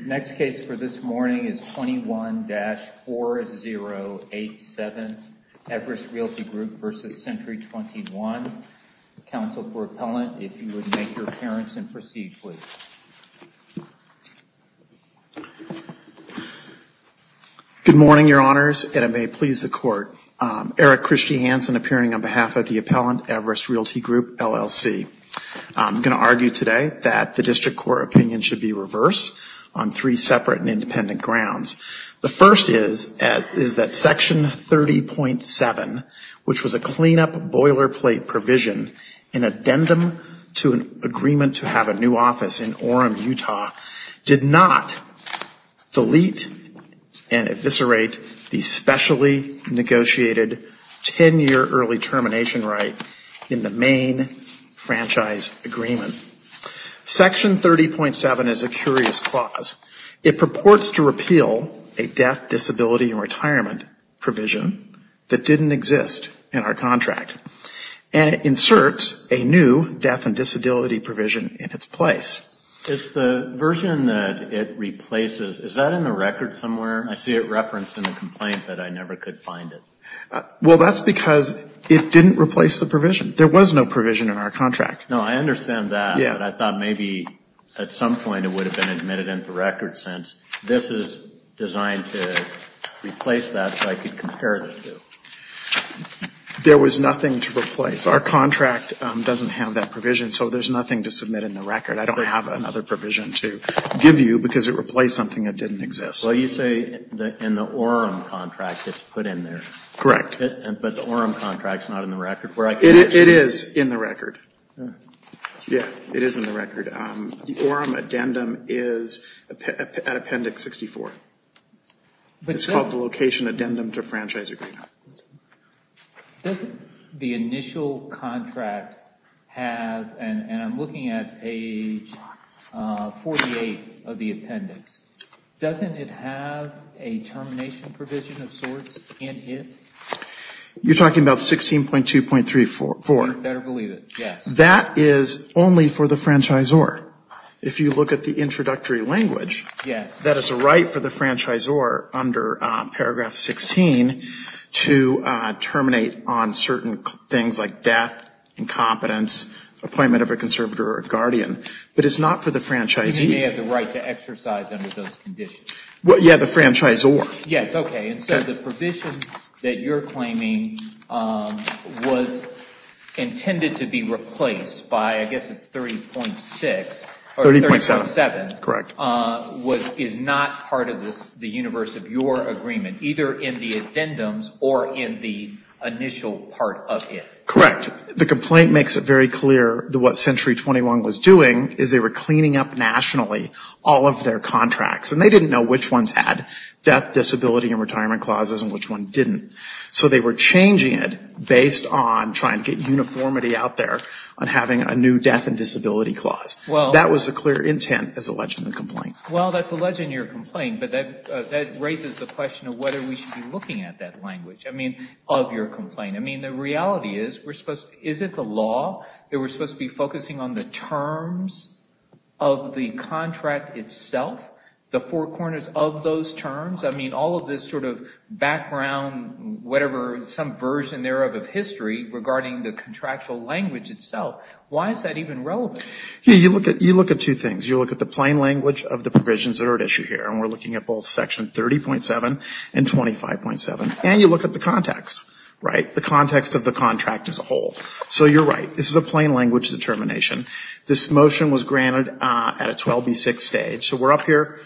Next case for this morning is 21-4087, Everest Realty Group v. Century 21. Counsel for Appellant, if you would make your appearance and proceed, please. Good morning, Your Honors, and it may please the Court. Eric Christy Hansen appearing on behalf of the Appellant, Everest Realty Group, LLC. I'm going to argue today that the District Court opinion should be reversed on three separate and independent grounds. The first is that Section 30.7, which was a cleanup boilerplate provision, in addendum to an agreement to have a new office in Orem, Utah, did not delete and eviscerate the specially negotiated 10-year early termination right in the main franchise agreement. Section 30.7 is a curious clause. It purports to repeal a death, disability and retirement provision that didn't exist in our contract and inserts a new death and disability provision in its place. It's the version that it replaces. Is that in the record somewhere? I see it referenced in the complaint, but I never could find it. Well, that's because it didn't replace the provision. There was no provision in our contract. No, I understand that, but I thought maybe at some point it would have been admitted into the record since this is designed to replace that so I could compare the two. There was nothing to replace. Our contract doesn't have that provision, so there's nothing to submit in the record. I don't have another provision to give you because it replaced something that didn't exist. Well, you say in the Orem contract it's put in there. Correct. But the Orem contract is not in the record. It is in the record. Yeah, it is in the record. The Orem addendum is at Appendix 64. It's called the Location Addendum to Franchise Agreement. Doesn't the initial contract have, and I'm looking at page 48 of the appendix, doesn't it have a termination provision of sorts in it? You're talking about 16.2.3.4? You better believe it, yes. That is only for the franchisor. If you look at the introductory language, that is a right for the franchisor under paragraph 16 to terminate on certain things like death, incompetence, appointment of a conservator or a guardian. But it's not for the franchisee. You may have the right to exercise under those conditions. Yeah, the franchisor. Yes, okay. And so the provision that you're claiming was intended to be replaced by, I guess it's 30.6. 30.7. 30.7. Correct. Is not part of the universe of your agreement, either in the addendums or in the initial part of it. Correct. The complaint makes it very clear that what Century 21 was doing is they were cleaning up nationally all of their contracts. And they didn't know which ones had death, disability and retirement clauses and which ones didn't. So they were changing it based on trying to get uniformity out there on having a new death and disability clause. That was the clear intent as alleged in the complaint. Well, that's alleged in your complaint. But that raises the question of whether we should be looking at that language of your complaint. I mean, the reality is, is it the law that we're supposed to be focusing on the terms of the contract itself, the four corners of those terms? I mean, all of this sort of background, whatever, some version thereof of history regarding the contractual language itself, why is that even relevant? You look at two things. You look at the plain language of the provisions that are at issue here. And we're looking at both Section 30.7 and 25.7. And you look at the context, right, the context of the contract as a whole. So you're right. This is a plain language determination. This motion was granted at a 12B6 stage. So we're up here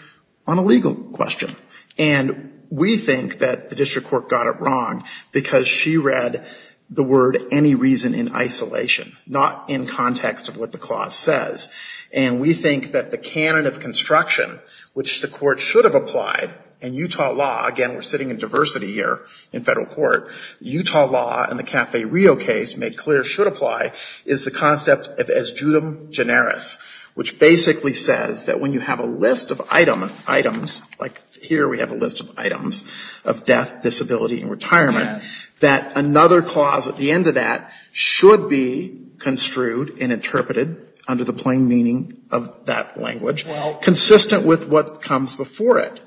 on a legal question. And we think that the district court got it wrong because she read the word any reason in isolation, not in context of what the clause says. And we think that the canon of construction, which the court should have applied, and Utah law, again, we're sitting in diversity here in federal court, Utah law and the Cafe Rio case made clear should apply, is the concept of es judem generis, which basically says that when you have a list of items, like here we have a list of items, of death, disability and retirement, that another clause at the end of that should be construed and interpreted under the plain meaning of that language, consistent with what comes before it.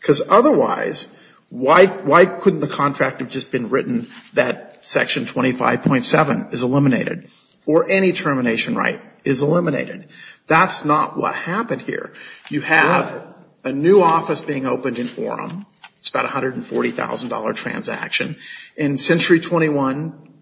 Because otherwise, why couldn't the contract have just been written that Section 25.7 is eliminated or any termination right is eliminated? That's not what happened here. You have a new office being opened in Orem. It's about a $140,000 transaction. And Century 21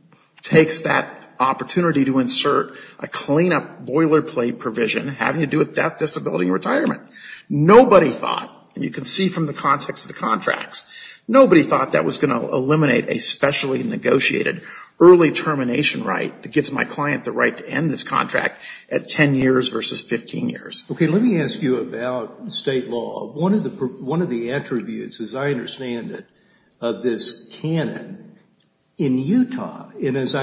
takes that opportunity to insert a cleanup boilerplate provision having to do with death, disability and retirement. Nobody thought, and you can see from the context of the contracts, nobody thought that was going to eliminate a specially negotiated early termination right that gives my client the right to end this contract at 10 years versus 15 years. Okay, let me ask you about state law. One of the attributes, as I understand it, of this canon in Utah, and as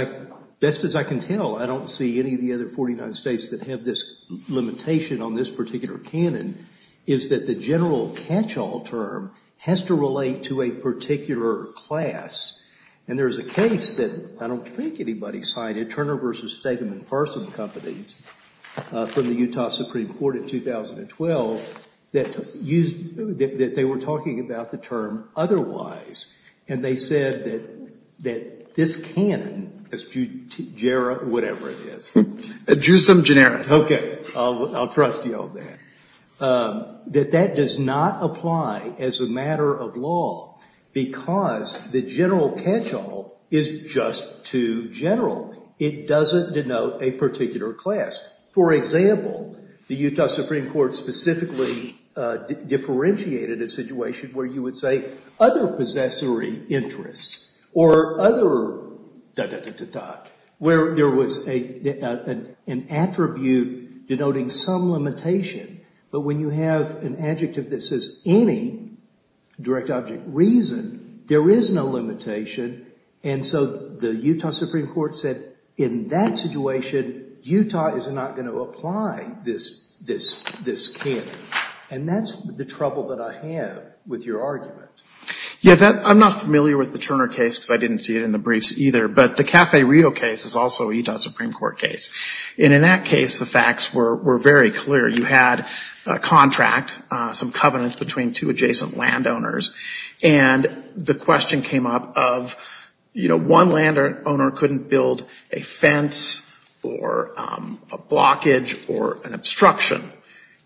best as I can tell, I don't see any of the other 49 states that have this limitation on this particular canon, is that the general catch-all term has to relate to a particular class. And there's a case that I don't think anybody cited, Turner v. Stegman Parson Companies from the Utah Supreme Court in 2012, that they were talking about the term otherwise. And they said that this canon, whatever it is. Jusum generis. Okay, I'll trust you on that. That that does not apply as a matter of law because the general catch-all is just too general. It doesn't denote a particular class. For example, the Utah Supreme Court specifically differentiated a situation where you would say other possessory interests or other dot, dot, dot, dot, where there was an attribute denoting some limitation. But when you have an adjective that says any direct object reason, there is no limitation. And so the Utah Supreme Court said in that situation, Utah is not going to apply this canon. And that's the trouble that I have with your argument. Yeah, I'm not familiar with the Turner case because I didn't see it in the briefs either. But the Cafe Rio case is also a Utah Supreme Court case. And in that case, the facts were very clear. You had a contract, some covenants between two adjacent landowners. And the question came up of, you know, one landowner couldn't build a fence or a blockage or an obstruction.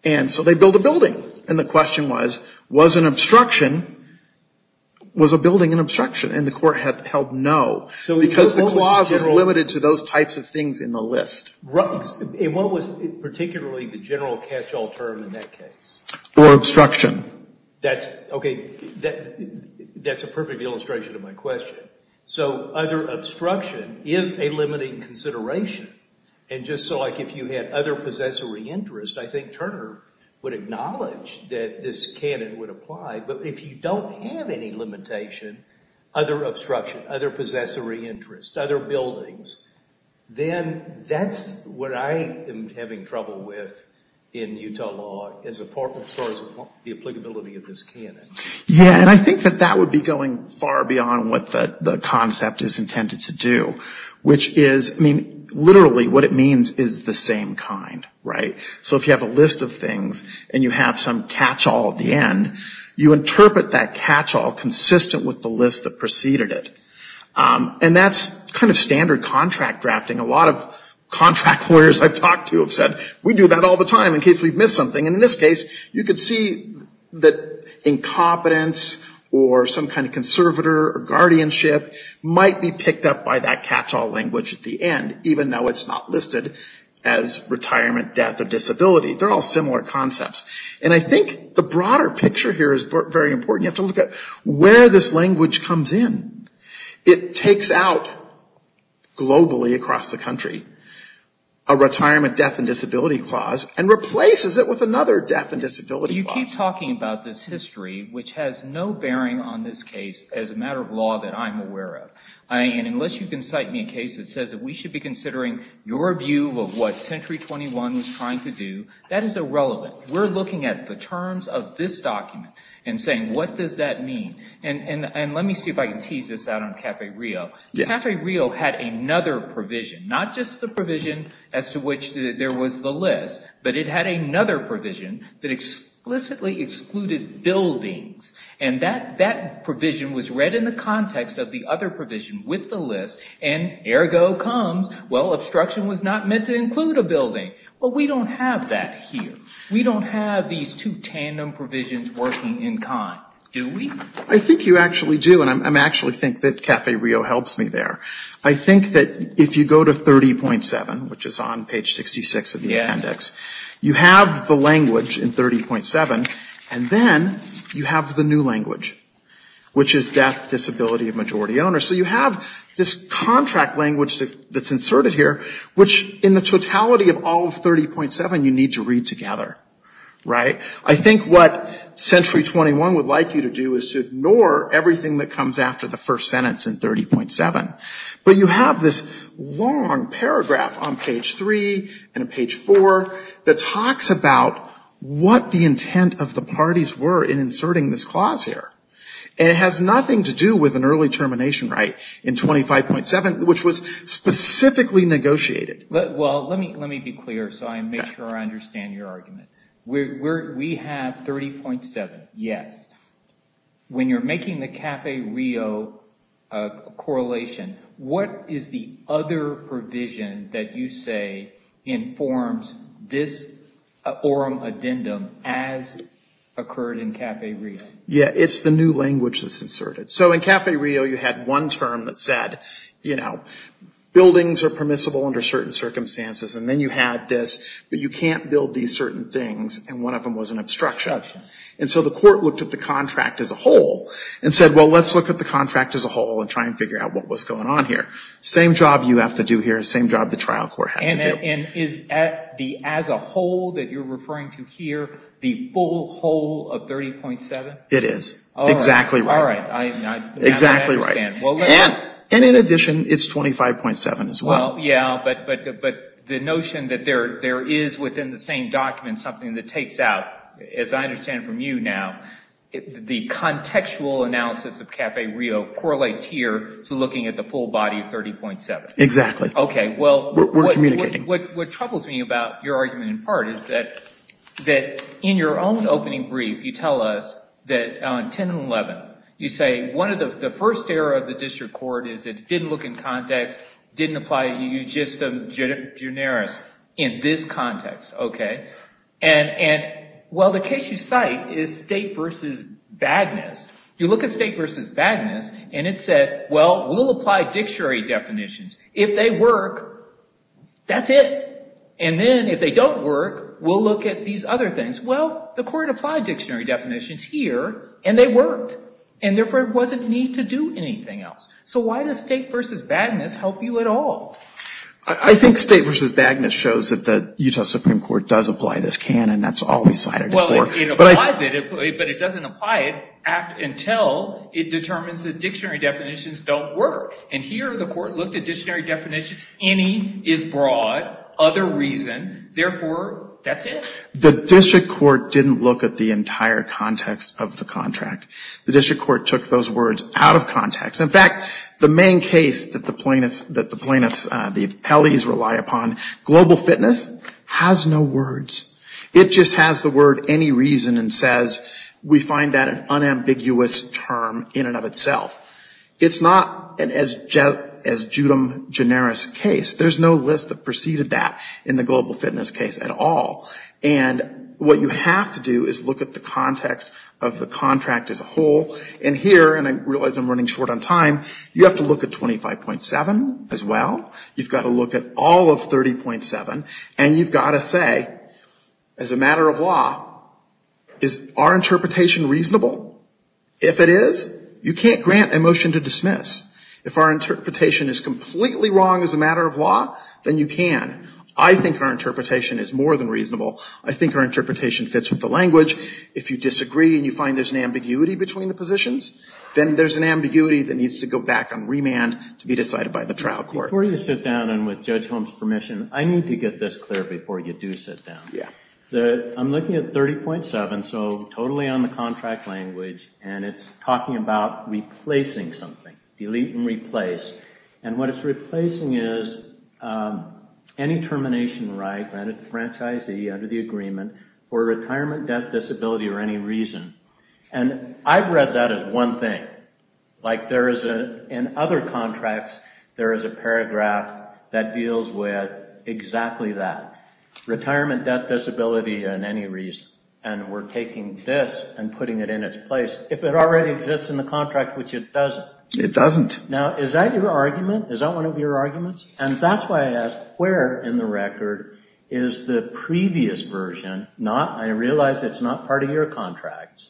And so they built a building. And the question was, was an obstruction, was a building an obstruction? And the court held no because the clause was limited to those types of things in the list. And what was particularly the general catch-all term in that case? Or obstruction. Okay, that's a perfect illustration of my question. So other obstruction is a limiting consideration. And just like if you had other possessory interest, I think Turner would acknowledge that this canon would apply. But if you don't have any limitation, other obstruction, other possessory interest, other buildings, then that's what I am having trouble with in Utah law as far as the applicability of this canon. Yeah, and I think that that would be going far beyond what the concept is intended to do, which is, I mean, literally what it means is the same kind. Right? So if you have a list of things and you have some catch-all at the end, you interpret that catch-all consistent with the list that preceded it. And that's kind of standard contract drafting. A lot of contract lawyers I've talked to have said, we do that all the time in case we've missed something. And in this case, you can see that incompetence or some kind of conservator or guardianship might be picked up by that catch-all language at the end, even though it's not listed as retirement, death, or disability. They're all similar concepts. And I think the broader picture here is very important. You have to look at where this language comes in. It takes out globally across the country a retirement, death, and disability clause and replaces it with another death and disability clause. You keep talking about this history, which has no bearing on this case as a matter of law that I'm aware of. And unless you can cite me a case that says that we should be considering your view of what Century 21 was trying to do, that is irrelevant. We're looking at the terms of this document and saying, what does that mean? And let me see if I can tease this out on Cafe Rio. Cafe Rio had another provision, not just the provision as to which there was the list, but it had another provision that explicitly excluded buildings. And that provision was read in the context of the other provision with the list, and ergo comes, well, obstruction was not meant to include a building. Well, we don't have that here. We don't have these two tandem provisions working in kind, do we? I think you actually do, and I actually think that Cafe Rio helps me there. I think that if you go to 30.7, which is on page 66 of the appendix, you have the language in 30.7, and then you have the new language, which is death, disability, and majority owner. So you have this contract language that's inserted here, which in the totality of all of 30.7 you need to read together, right? I think what Century 21 would like you to do is to ignore everything that comes after the first sentence in 30.7. But you have this long paragraph on page 3 and page 4 that talks about what the intent of the parties were in inserting this clause here. And it has nothing to do with an early termination right in 25.7, which was specifically negotiated. Well, let me be clear so I make sure I understand your argument. We have 30.7, yes. When you're making the Cafe Rio correlation, what is the other provision that you say informs this orm addendum as occurred in Cafe Rio? Yeah, it's the new language that's inserted. So in Cafe Rio you had one term that said, you know, buildings are permissible under certain circumstances. And then you had this, but you can't build these certain things, and one of them was an obstruction. And so the court looked at the contract as a whole and said, well, let's look at the contract as a whole and try and figure out what was going on here. Same job you have to do here, same job the trial court had to do. And is the as a whole that you're referring to here the full whole of 30.7? It is. Exactly right. All right. Exactly right. And in addition, it's 25.7 as well. Well, yeah, but the notion that there is within the same document something that takes out, as I understand from you now, the contextual analysis of Cafe Rio correlates here to looking at the full body of 30.7. Exactly. Okay. We're communicating. What troubles me about your argument in part is that in your own opening brief you tell us that on 10 and 11 you say one of the first error of the district court is it didn't look in context, didn't apply, you just generis in this context. Okay. And, well, the case you cite is state versus badness. You look at state versus badness and it said, well, we'll apply dictionary definitions. If they work, that's it. And then if they don't work, we'll look at these other things. Well, the court applied dictionary definitions here and they worked and therefore there wasn't a need to do anything else. So why does state versus badness help you at all? I think state versus badness shows that the Utah Supreme Court does apply this canon. That's all we cited it for. Well, it applies it, but it doesn't apply it until it determines that dictionary definitions don't work. And here the court looked at dictionary definitions, any is broad, other reason, therefore that's it. The district court didn't look at the entire context of the contract. The district court took those words out of context. In fact, the main case that the plaintiffs, the appellees rely upon, global fitness, has no words. It just has the word any reason and says we find that an unambiguous term in and of itself. It's not as judum generis case. There's no list that preceded that in the global fitness case at all. And what you have to do is look at the context of the contract as a whole. And here, and I realize I'm running short on time, you have to look at 25.7 as well. You've got to look at all of 30.7. And you've got to say, as a matter of law, is our interpretation reasonable? If it is, you can't grant a motion to dismiss. If our interpretation is completely wrong as a matter of law, then you can. I think our interpretation is more than reasonable. I think our interpretation fits with the language. If you disagree and you find there's an ambiguity between the positions, then there's an ambiguity that needs to go back on remand to be decided by the trial court. Before you sit down, and with Judge Holmes' permission, I need to get this clear before you do sit down. I'm looking at 30.7, so totally on the contract language, and it's talking about replacing something, delete and replace. And what it's replacing is any termination right granted to the franchisee under the agreement for retirement, death, disability, or any reason. And I've read that as one thing. In other contracts, there is a paragraph that deals with exactly that. Retirement, death, disability, and any reason. And we're taking this and putting it in its place, if it already exists in the contract, which it doesn't. It doesn't. Now, is that your argument? Is that one of your arguments? And that's why I ask, where in the record is the previous version, not I realize it's not part of your contract,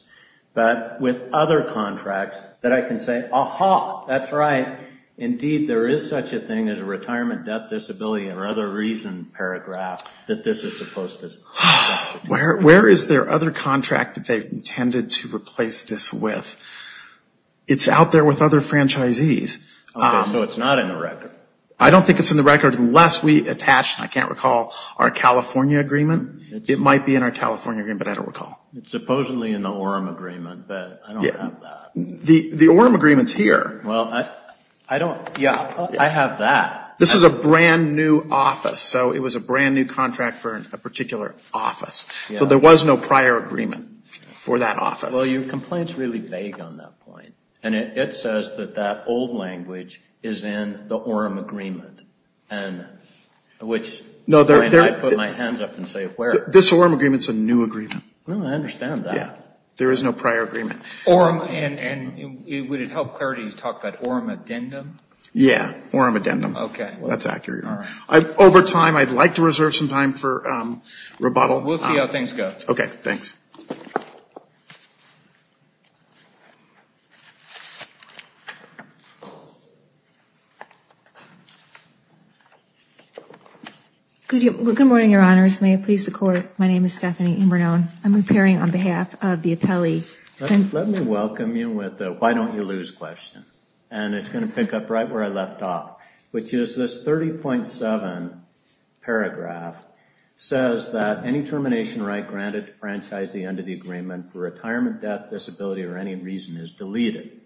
but with other contracts that I can say, aha, that's right. Indeed, there is such a thing as a retirement, death, disability, or other reason paragraph that this is supposed to. Where is their other contract that they've intended to replace this with? It's out there with other franchisees. Okay, so it's not in the record. I don't think it's in the record unless we attach, and I can't recall, our California agreement. It might be in our California agreement, but I don't recall. It's supposedly in the Orem agreement, but I don't have that. The Orem agreement's here. Well, I don't, yeah, I have that. This is a brand new office. So it was a brand new contract for a particular office. So there was no prior agreement for that office. Well, your complaint's really vague on that point. And it says that that old language is in the Orem agreement, which I might put my hands up and say where. This Orem agreement's a new agreement. Well, I understand that. Yeah, there is no prior agreement. And would it help clarity to talk about Orem addendum? Yeah, Orem addendum. Okay. That's accurate. Over time, I'd like to reserve some time for rebuttal. We'll see how things go. Okay, thanks. Good morning, Your Honors. May it please the Court. My name is Stephanie Inbernone. I'm appearing on behalf of the appellee. Let me welcome you with a why don't you lose question. And it's going to pick up right where I left off, which is this 30.7 paragraph says that any termination right granted to franchise the end of the agreement for retirement, death, disability, or any reason is deleted.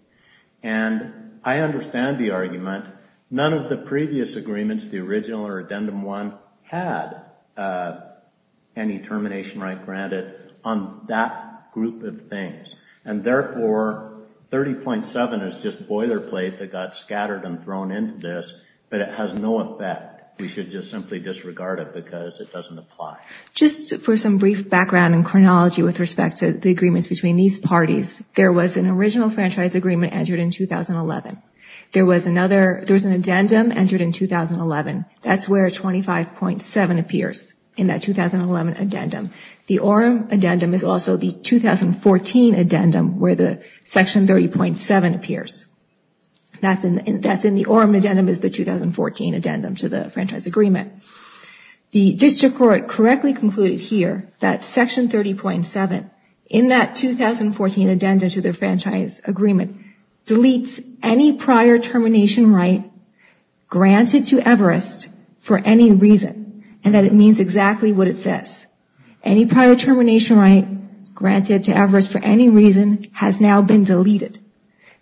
And I understand the argument. None of the previous agreements, the original or addendum one, had any termination right granted on that group of things. And therefore, 30.7 is just boilerplate that got scattered and thrown into this, but it has no effect. We should just simply disregard it because it doesn't apply. Just for some brief background and chronology with respect to the agreements between these parties, there was an original franchise agreement entered in 2011. There was an addendum entered in 2011. That's where 25.7 appears in that 2011 addendum. The Orem addendum is also the 2014 addendum where the Section 30.7 appears. That's in the Orem addendum is the 2014 addendum to the franchise agreement. The district court correctly concluded here that Section 30.7, in that 2014 addendum to the franchise agreement, deletes any prior termination right granted to Everest for any reason, and that it means exactly what it says. Any prior termination right granted to Everest for any reason has now been deleted.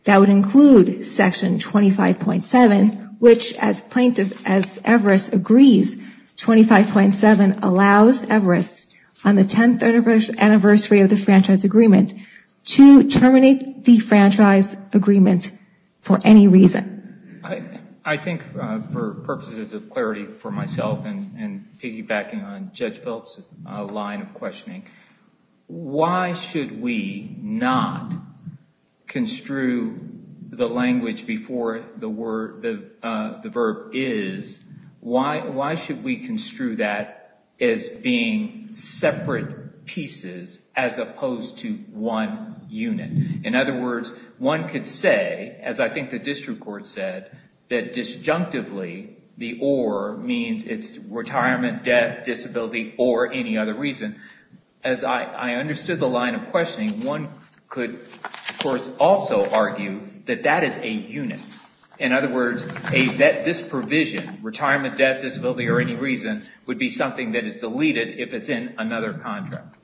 That would include Section 25.7, which as Everest agrees, 25.7 allows Everest on the 10th anniversary of the franchise agreement to terminate the franchise agreement for any reason. I think for purposes of clarity for myself and piggybacking on Judge Phelps' line of questioning, why should we not construe the language before the verb is, why should we construe that as being separate pieces as opposed to one unit? In other words, one could say, as I think the district court said, that disjunctively the or means it's retirement, death, disability, or any other reason. As I understood the line of questioning, one could of course also argue that that is a unit. In other words, this provision, retirement, death, disability, or any reason would be something that is deleted if it's in another contract.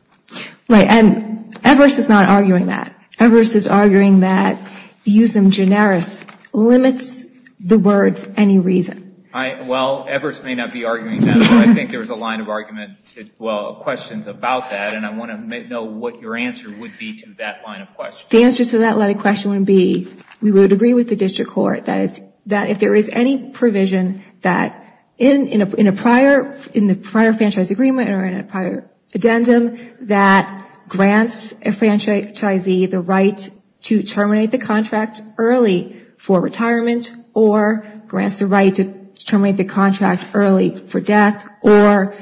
Right, and Everest is not arguing that. Everest is arguing that using generis limits the words any reason. Well, Everest may not be arguing that, but I think there's a line of questions about that, and I want to know what your answer would be to that line of questioning. The answer to that line of questioning would be, we would agree with the district court that if there is any provision that in the prior franchise agreement or in a prior addendum that grants a franchisee the right to terminate the contract early for retirement or grants the right to terminate the contract early for death or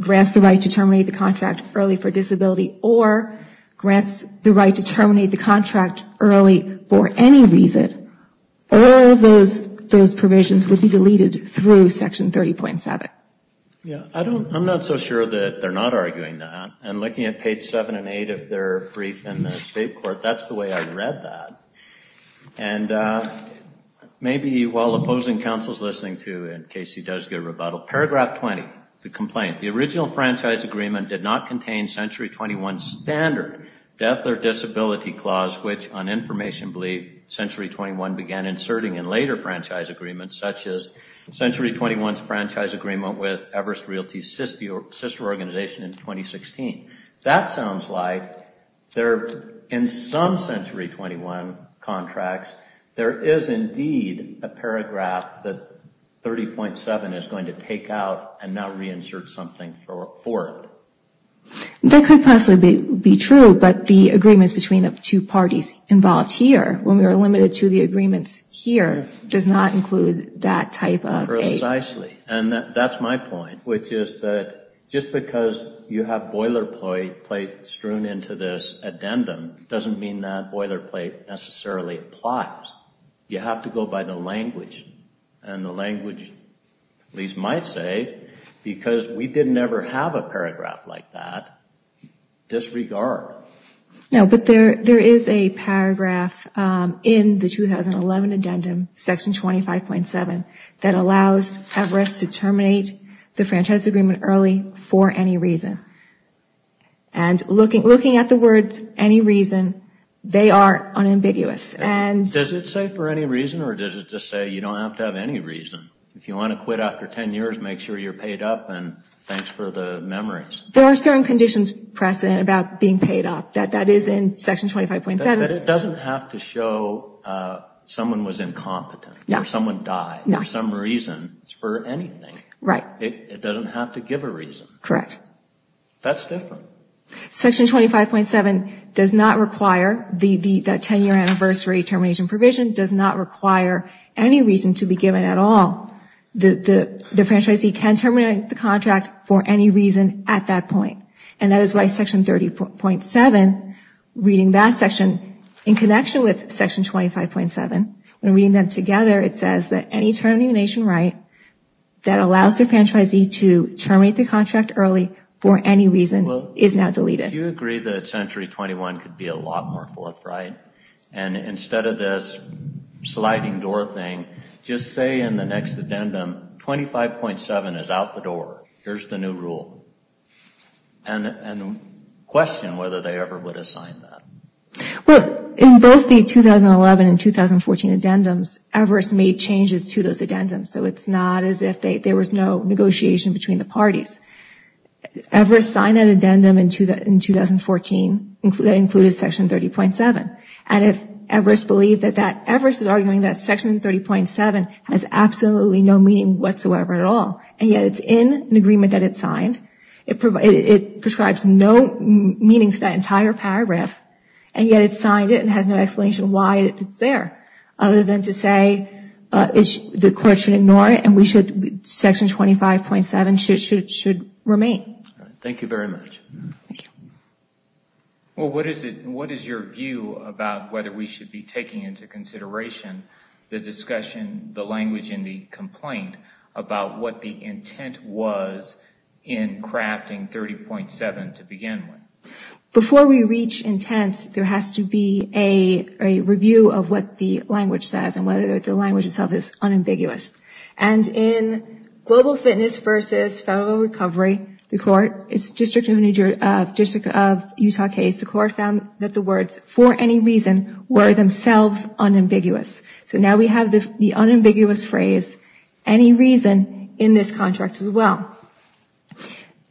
grants the right to terminate the contract early for disability or grants the right to terminate the contract early for any reason, all those provisions would be deleted through section 30.7. Yeah, I'm not so sure that they're not arguing that, and looking at page 7 and 8 of their brief in the state court, that's the way I read that. And maybe while opposing counsels listening to, in case he does get a rebuttal, paragraph 20, the complaint, the original franchise agreement did not contain Century 21 standard death or disability clause which, on information, Century 21 began inserting in later franchise agreements, such as Century 21's franchise agreement with Everest Realty's sister organization in 2016. That sounds like there, in some Century 21 contracts, there is indeed a paragraph that 30.7 is going to take out and not reinsert something for it. That could possibly be true, but the agreements between the two parties involved here, when we are limited to the agreements here, does not include that type of a... Precisely, and that's my point, which is that just because you have boilerplate strewn into this addendum doesn't mean that boilerplate necessarily applies. You have to go by the language, and the language at least might say, because we didn't ever have a paragraph like that, disregard. No, but there is a paragraph in the 2011 addendum, section 25.7, that allows Everest to terminate the franchise agreement early for any reason. And looking at the words, any reason, they are unambiguous. Does it say for any reason or does it just say you don't have to have any reason? If you want to quit after 10 years, make sure you're paid up and thanks for the memories. There are certain conditions present about being paid up. That is in section 25.7. But it doesn't have to show someone was incompetent or someone died. No. For some reason, for anything. Right. It doesn't have to give a reason. Correct. That's different. Section 25.7 does not require the 10-year anniversary termination provision, does not require any reason to be given at all. The franchisee can terminate the contract for any reason at that point. And that is why section 30.7, reading that section in connection with section 25.7, when reading them together, it says that any termination right that allows the franchisee to terminate the contract early for any reason is now deleted. Do you agree that Century 21 could be a lot more forthright? And instead of this sliding door thing, just say in the next addendum, 25.7 is out the door. Here's the new rule. And question whether they ever would assign that. Well, in both the 2011 and 2014 addendums, Everest made changes to those addendums. So it's not as if there was no negotiation between the parties. Everest signed an addendum in 2014 that included section 30.7. And if Everest believed that that, Everest is arguing that section 30.7 has absolutely no meaning whatsoever at all. And yet it's in an agreement that it signed. It prescribes no meaning to that entire paragraph, and yet it signed it and has no explanation why it's there, other than to say the court should ignore it and section 25.7 should remain. Thank you very much. What is your view about whether we should be taking into consideration the discussion, the language in the complaint about what the intent was in crafting 30.7 to begin with? Before we reach intent, there has to be a review of what the language says and whether the language itself is unambiguous. And in Global Fitness v. Federal Recovery, the court, District of Utah case, the court found that the words, for any reason, were themselves unambiguous. So now we have the unambiguous phrase, any reason, in this contract as well.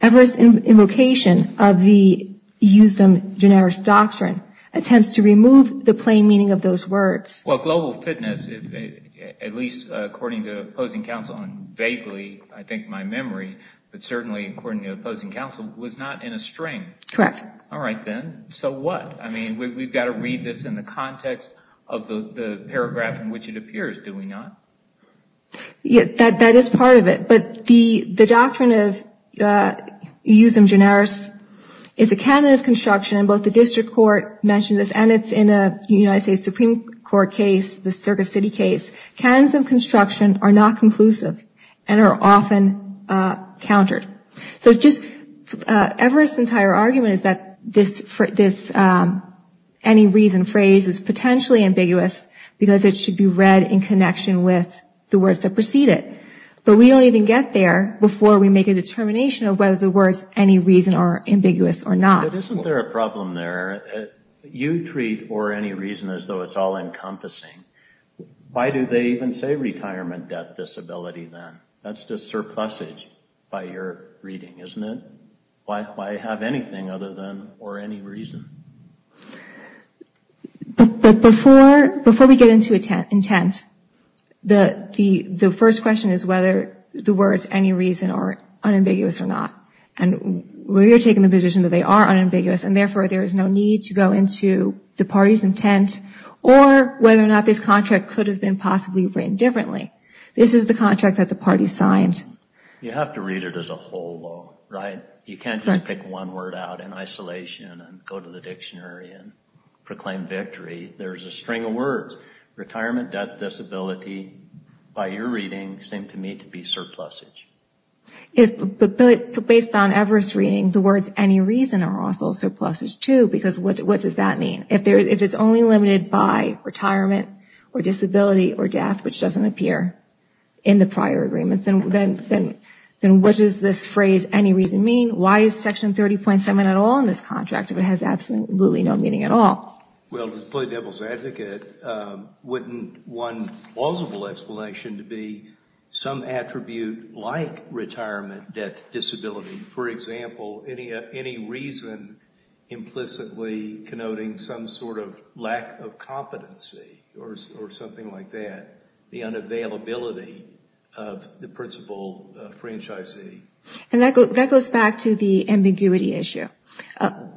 Everest's invocation of the eusthem generis doctrine attempts to remove the plain meaning of those words. Well, Global Fitness, at least according to opposing counsel, and vaguely, I think, my memory, but certainly according to opposing counsel, was not in a string. Correct. All right then, so what? I mean, we've got to read this in the context of the paragraph in which it appears, do we not? That is part of it. But the doctrine of eusthem generis is a candidate of construction, and both the district court mentioned this, and it's in a United States Supreme Court case, the Circus City case. Candidates of construction are not conclusive and are often countered. So just Everest's entire argument is that this any reason phrase is potentially ambiguous because it should be read in connection with the words that precede it. But we don't even get there before we make a determination of whether the words any reason are ambiguous or not. But isn't there a problem there? You treat or any reason as though it's all encompassing. Why do they even say retirement debt disability then? That's just surplusage by your reading, isn't it? Why have anything other than or any reason? But before we get into intent, the first question is whether the words any reason are unambiguous or not. And we are taking the position that they are unambiguous, and therefore there is no need to go into the party's intent or whether or not this contract could have been possibly written differently. This is the contract that the party signed. You have to read it as a whole, right? You can't just pick one word out in isolation and go to the dictionary and proclaim victory. There's a string of words. Retirement debt disability, by your reading, seemed to me to be surplusage. But based on Everest's reading, the words any reason are also surplusage too, because what does that mean? If it's only limited by retirement or disability or death, which doesn't appear in the prior agreements, then what does this phrase any reason mean? Why is Section 30.7 at all in this contract if it has absolutely no meaning at all? Well, to play devil's advocate, wouldn't one plausible explanation to be some attribute like retirement debt disability, for example, any reason implicitly connoting some sort of lack of competency or something like that, the unavailability of the principal franchisee? And that goes back to the ambiguity issue.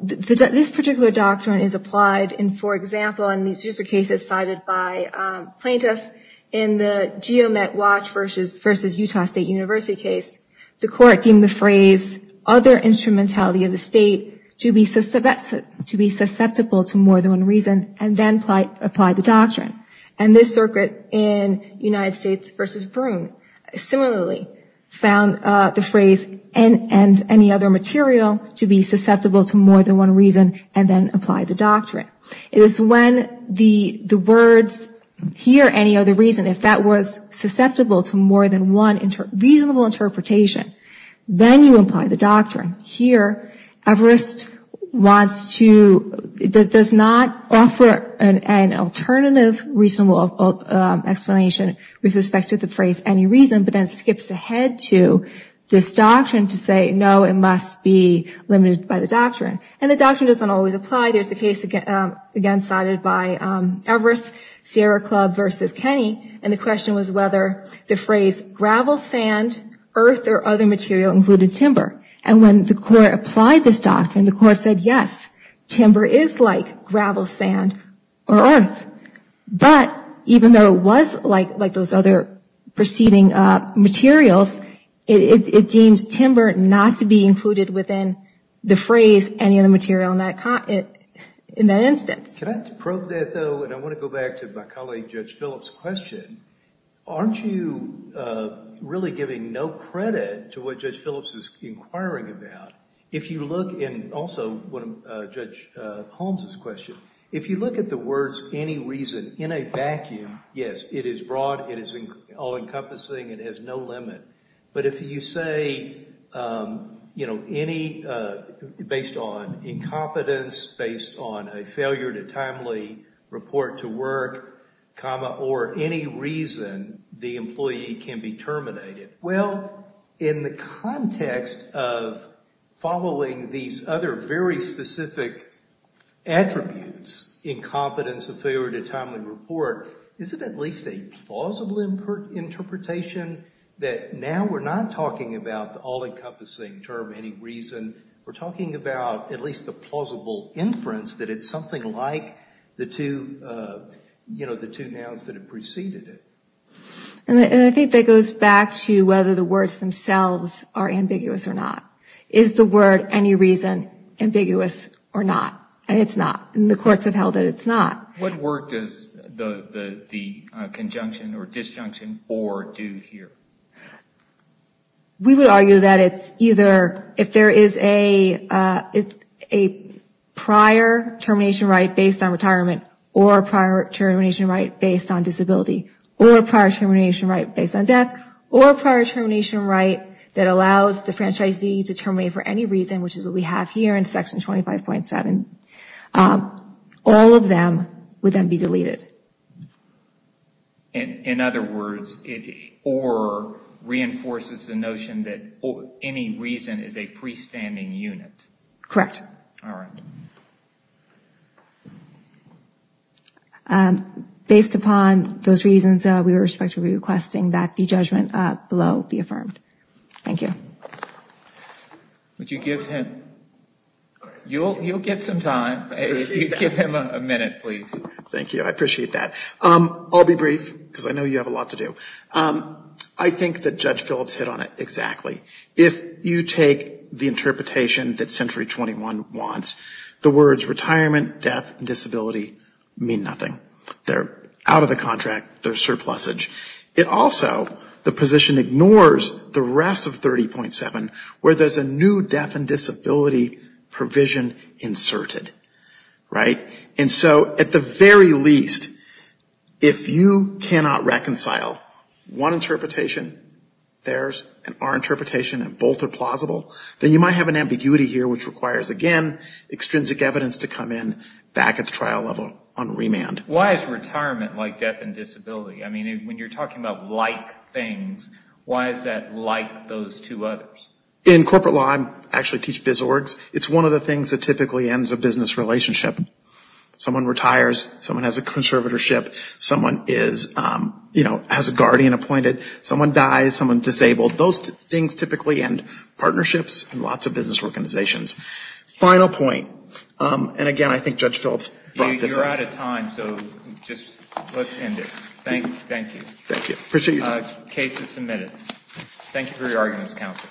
This particular doctrine is applied in, for example, in these user cases cited by plaintiffs in the GeoMet Watch versus Utah State University case. The court deemed the phrase other instrumentality of the state to be susceptible to more than one reason and then applied the doctrine. And this circuit in United States versus Broome similarly found the phrase and any other material to be susceptible to more than one reason and then applied the doctrine. It is when the words here, any other reason, if that was susceptible to more than one reasonable interpretation, then you apply the doctrine. Here, Everest wants to, does not offer an alternative reasonable explanation with respect to the phrase any reason, but then skips ahead to this doctrine to say, no, it must be limited by the doctrine. And the doctrine doesn't always apply. There's a case again cited by Everest, Sierra Club versus Kenny, and the question was whether the phrase gravel, sand, earth, or other material included timber. And when the court applied this doctrine, the court said, yes, timber is like gravel, sand, or earth. But even though it was like those other preceding materials, it deems timber not to be included within the phrase any other material in that instance. Can I probe that, though? And I want to go back to my colleague Judge Phillips' question. Aren't you really giving no credit to what Judge Phillips is inquiring about? If you look in also Judge Holmes' question, if you look at the words any reason in a vacuum, yes, it is broad, it is all-encompassing, it has no limit. But if you say, you know, based on incompetence, based on a failure to timely report to work, comma, or any reason, the employee can be terminated. Well, in the context of following these other very specific attributes, incompetence, a failure to timely report, is it at least a plausible interpretation that now we're not talking about the all-encompassing term any reason, we're talking about at least the plausible inference that it's something like the two nouns that have preceded it? And I think that goes back to whether the words themselves are ambiguous or not. Is the word any reason ambiguous or not? And it's not. And the courts have held that it's not. What work does the conjunction or disjunction for do here? We would argue that it's either if there is a prior termination right based on retirement or a prior termination right based on disability or a prior termination right based on death or a prior termination right that allows the franchisee to terminate for any reason, which is what we have here in Section 25.7, all of them would then be deleted. In other words, it or reinforces the notion that any reason is a pre-standing unit? Correct. All right. Based upon those reasons, we would expect to be requesting that the judgment below be affirmed. Thank you. Would you give him? You'll get some time. Give him a minute, please. Thank you. I appreciate that. I'll be brief because I know you have a lot to do. I think that Judge Phillips hit on it exactly. If you take the interpretation that Century 21 wants, the words retirement, death, and disability mean nothing. They're out of the contract. They're surplusage. It also, the position ignores the rest of 30.7 where there's a new death and disability provision inserted. Right? And so at the very least, if you cannot reconcile one interpretation, theirs, and our interpretation, and both are plausible, then you might have an ambiguity here which requires, again, extrinsic evidence to come in back at the trial level on remand. Why is retirement like death and disability? I mean, when you're talking about like things, why is that like those two others? In corporate law, I actually teach biz orgs. It's one of the things that typically ends a business relationship. Someone retires. Someone has a conservatorship. Someone is, you know, has a guardian appointed. Someone dies. Someone's disabled. Those things typically end partnerships and lots of business organizations. Final point, and again, I think Judge Phillips brought this up. You're out of time, so just let's end it. Thank you. Thank you. Proceed. Case is submitted. Thank you for your arguments, counsel.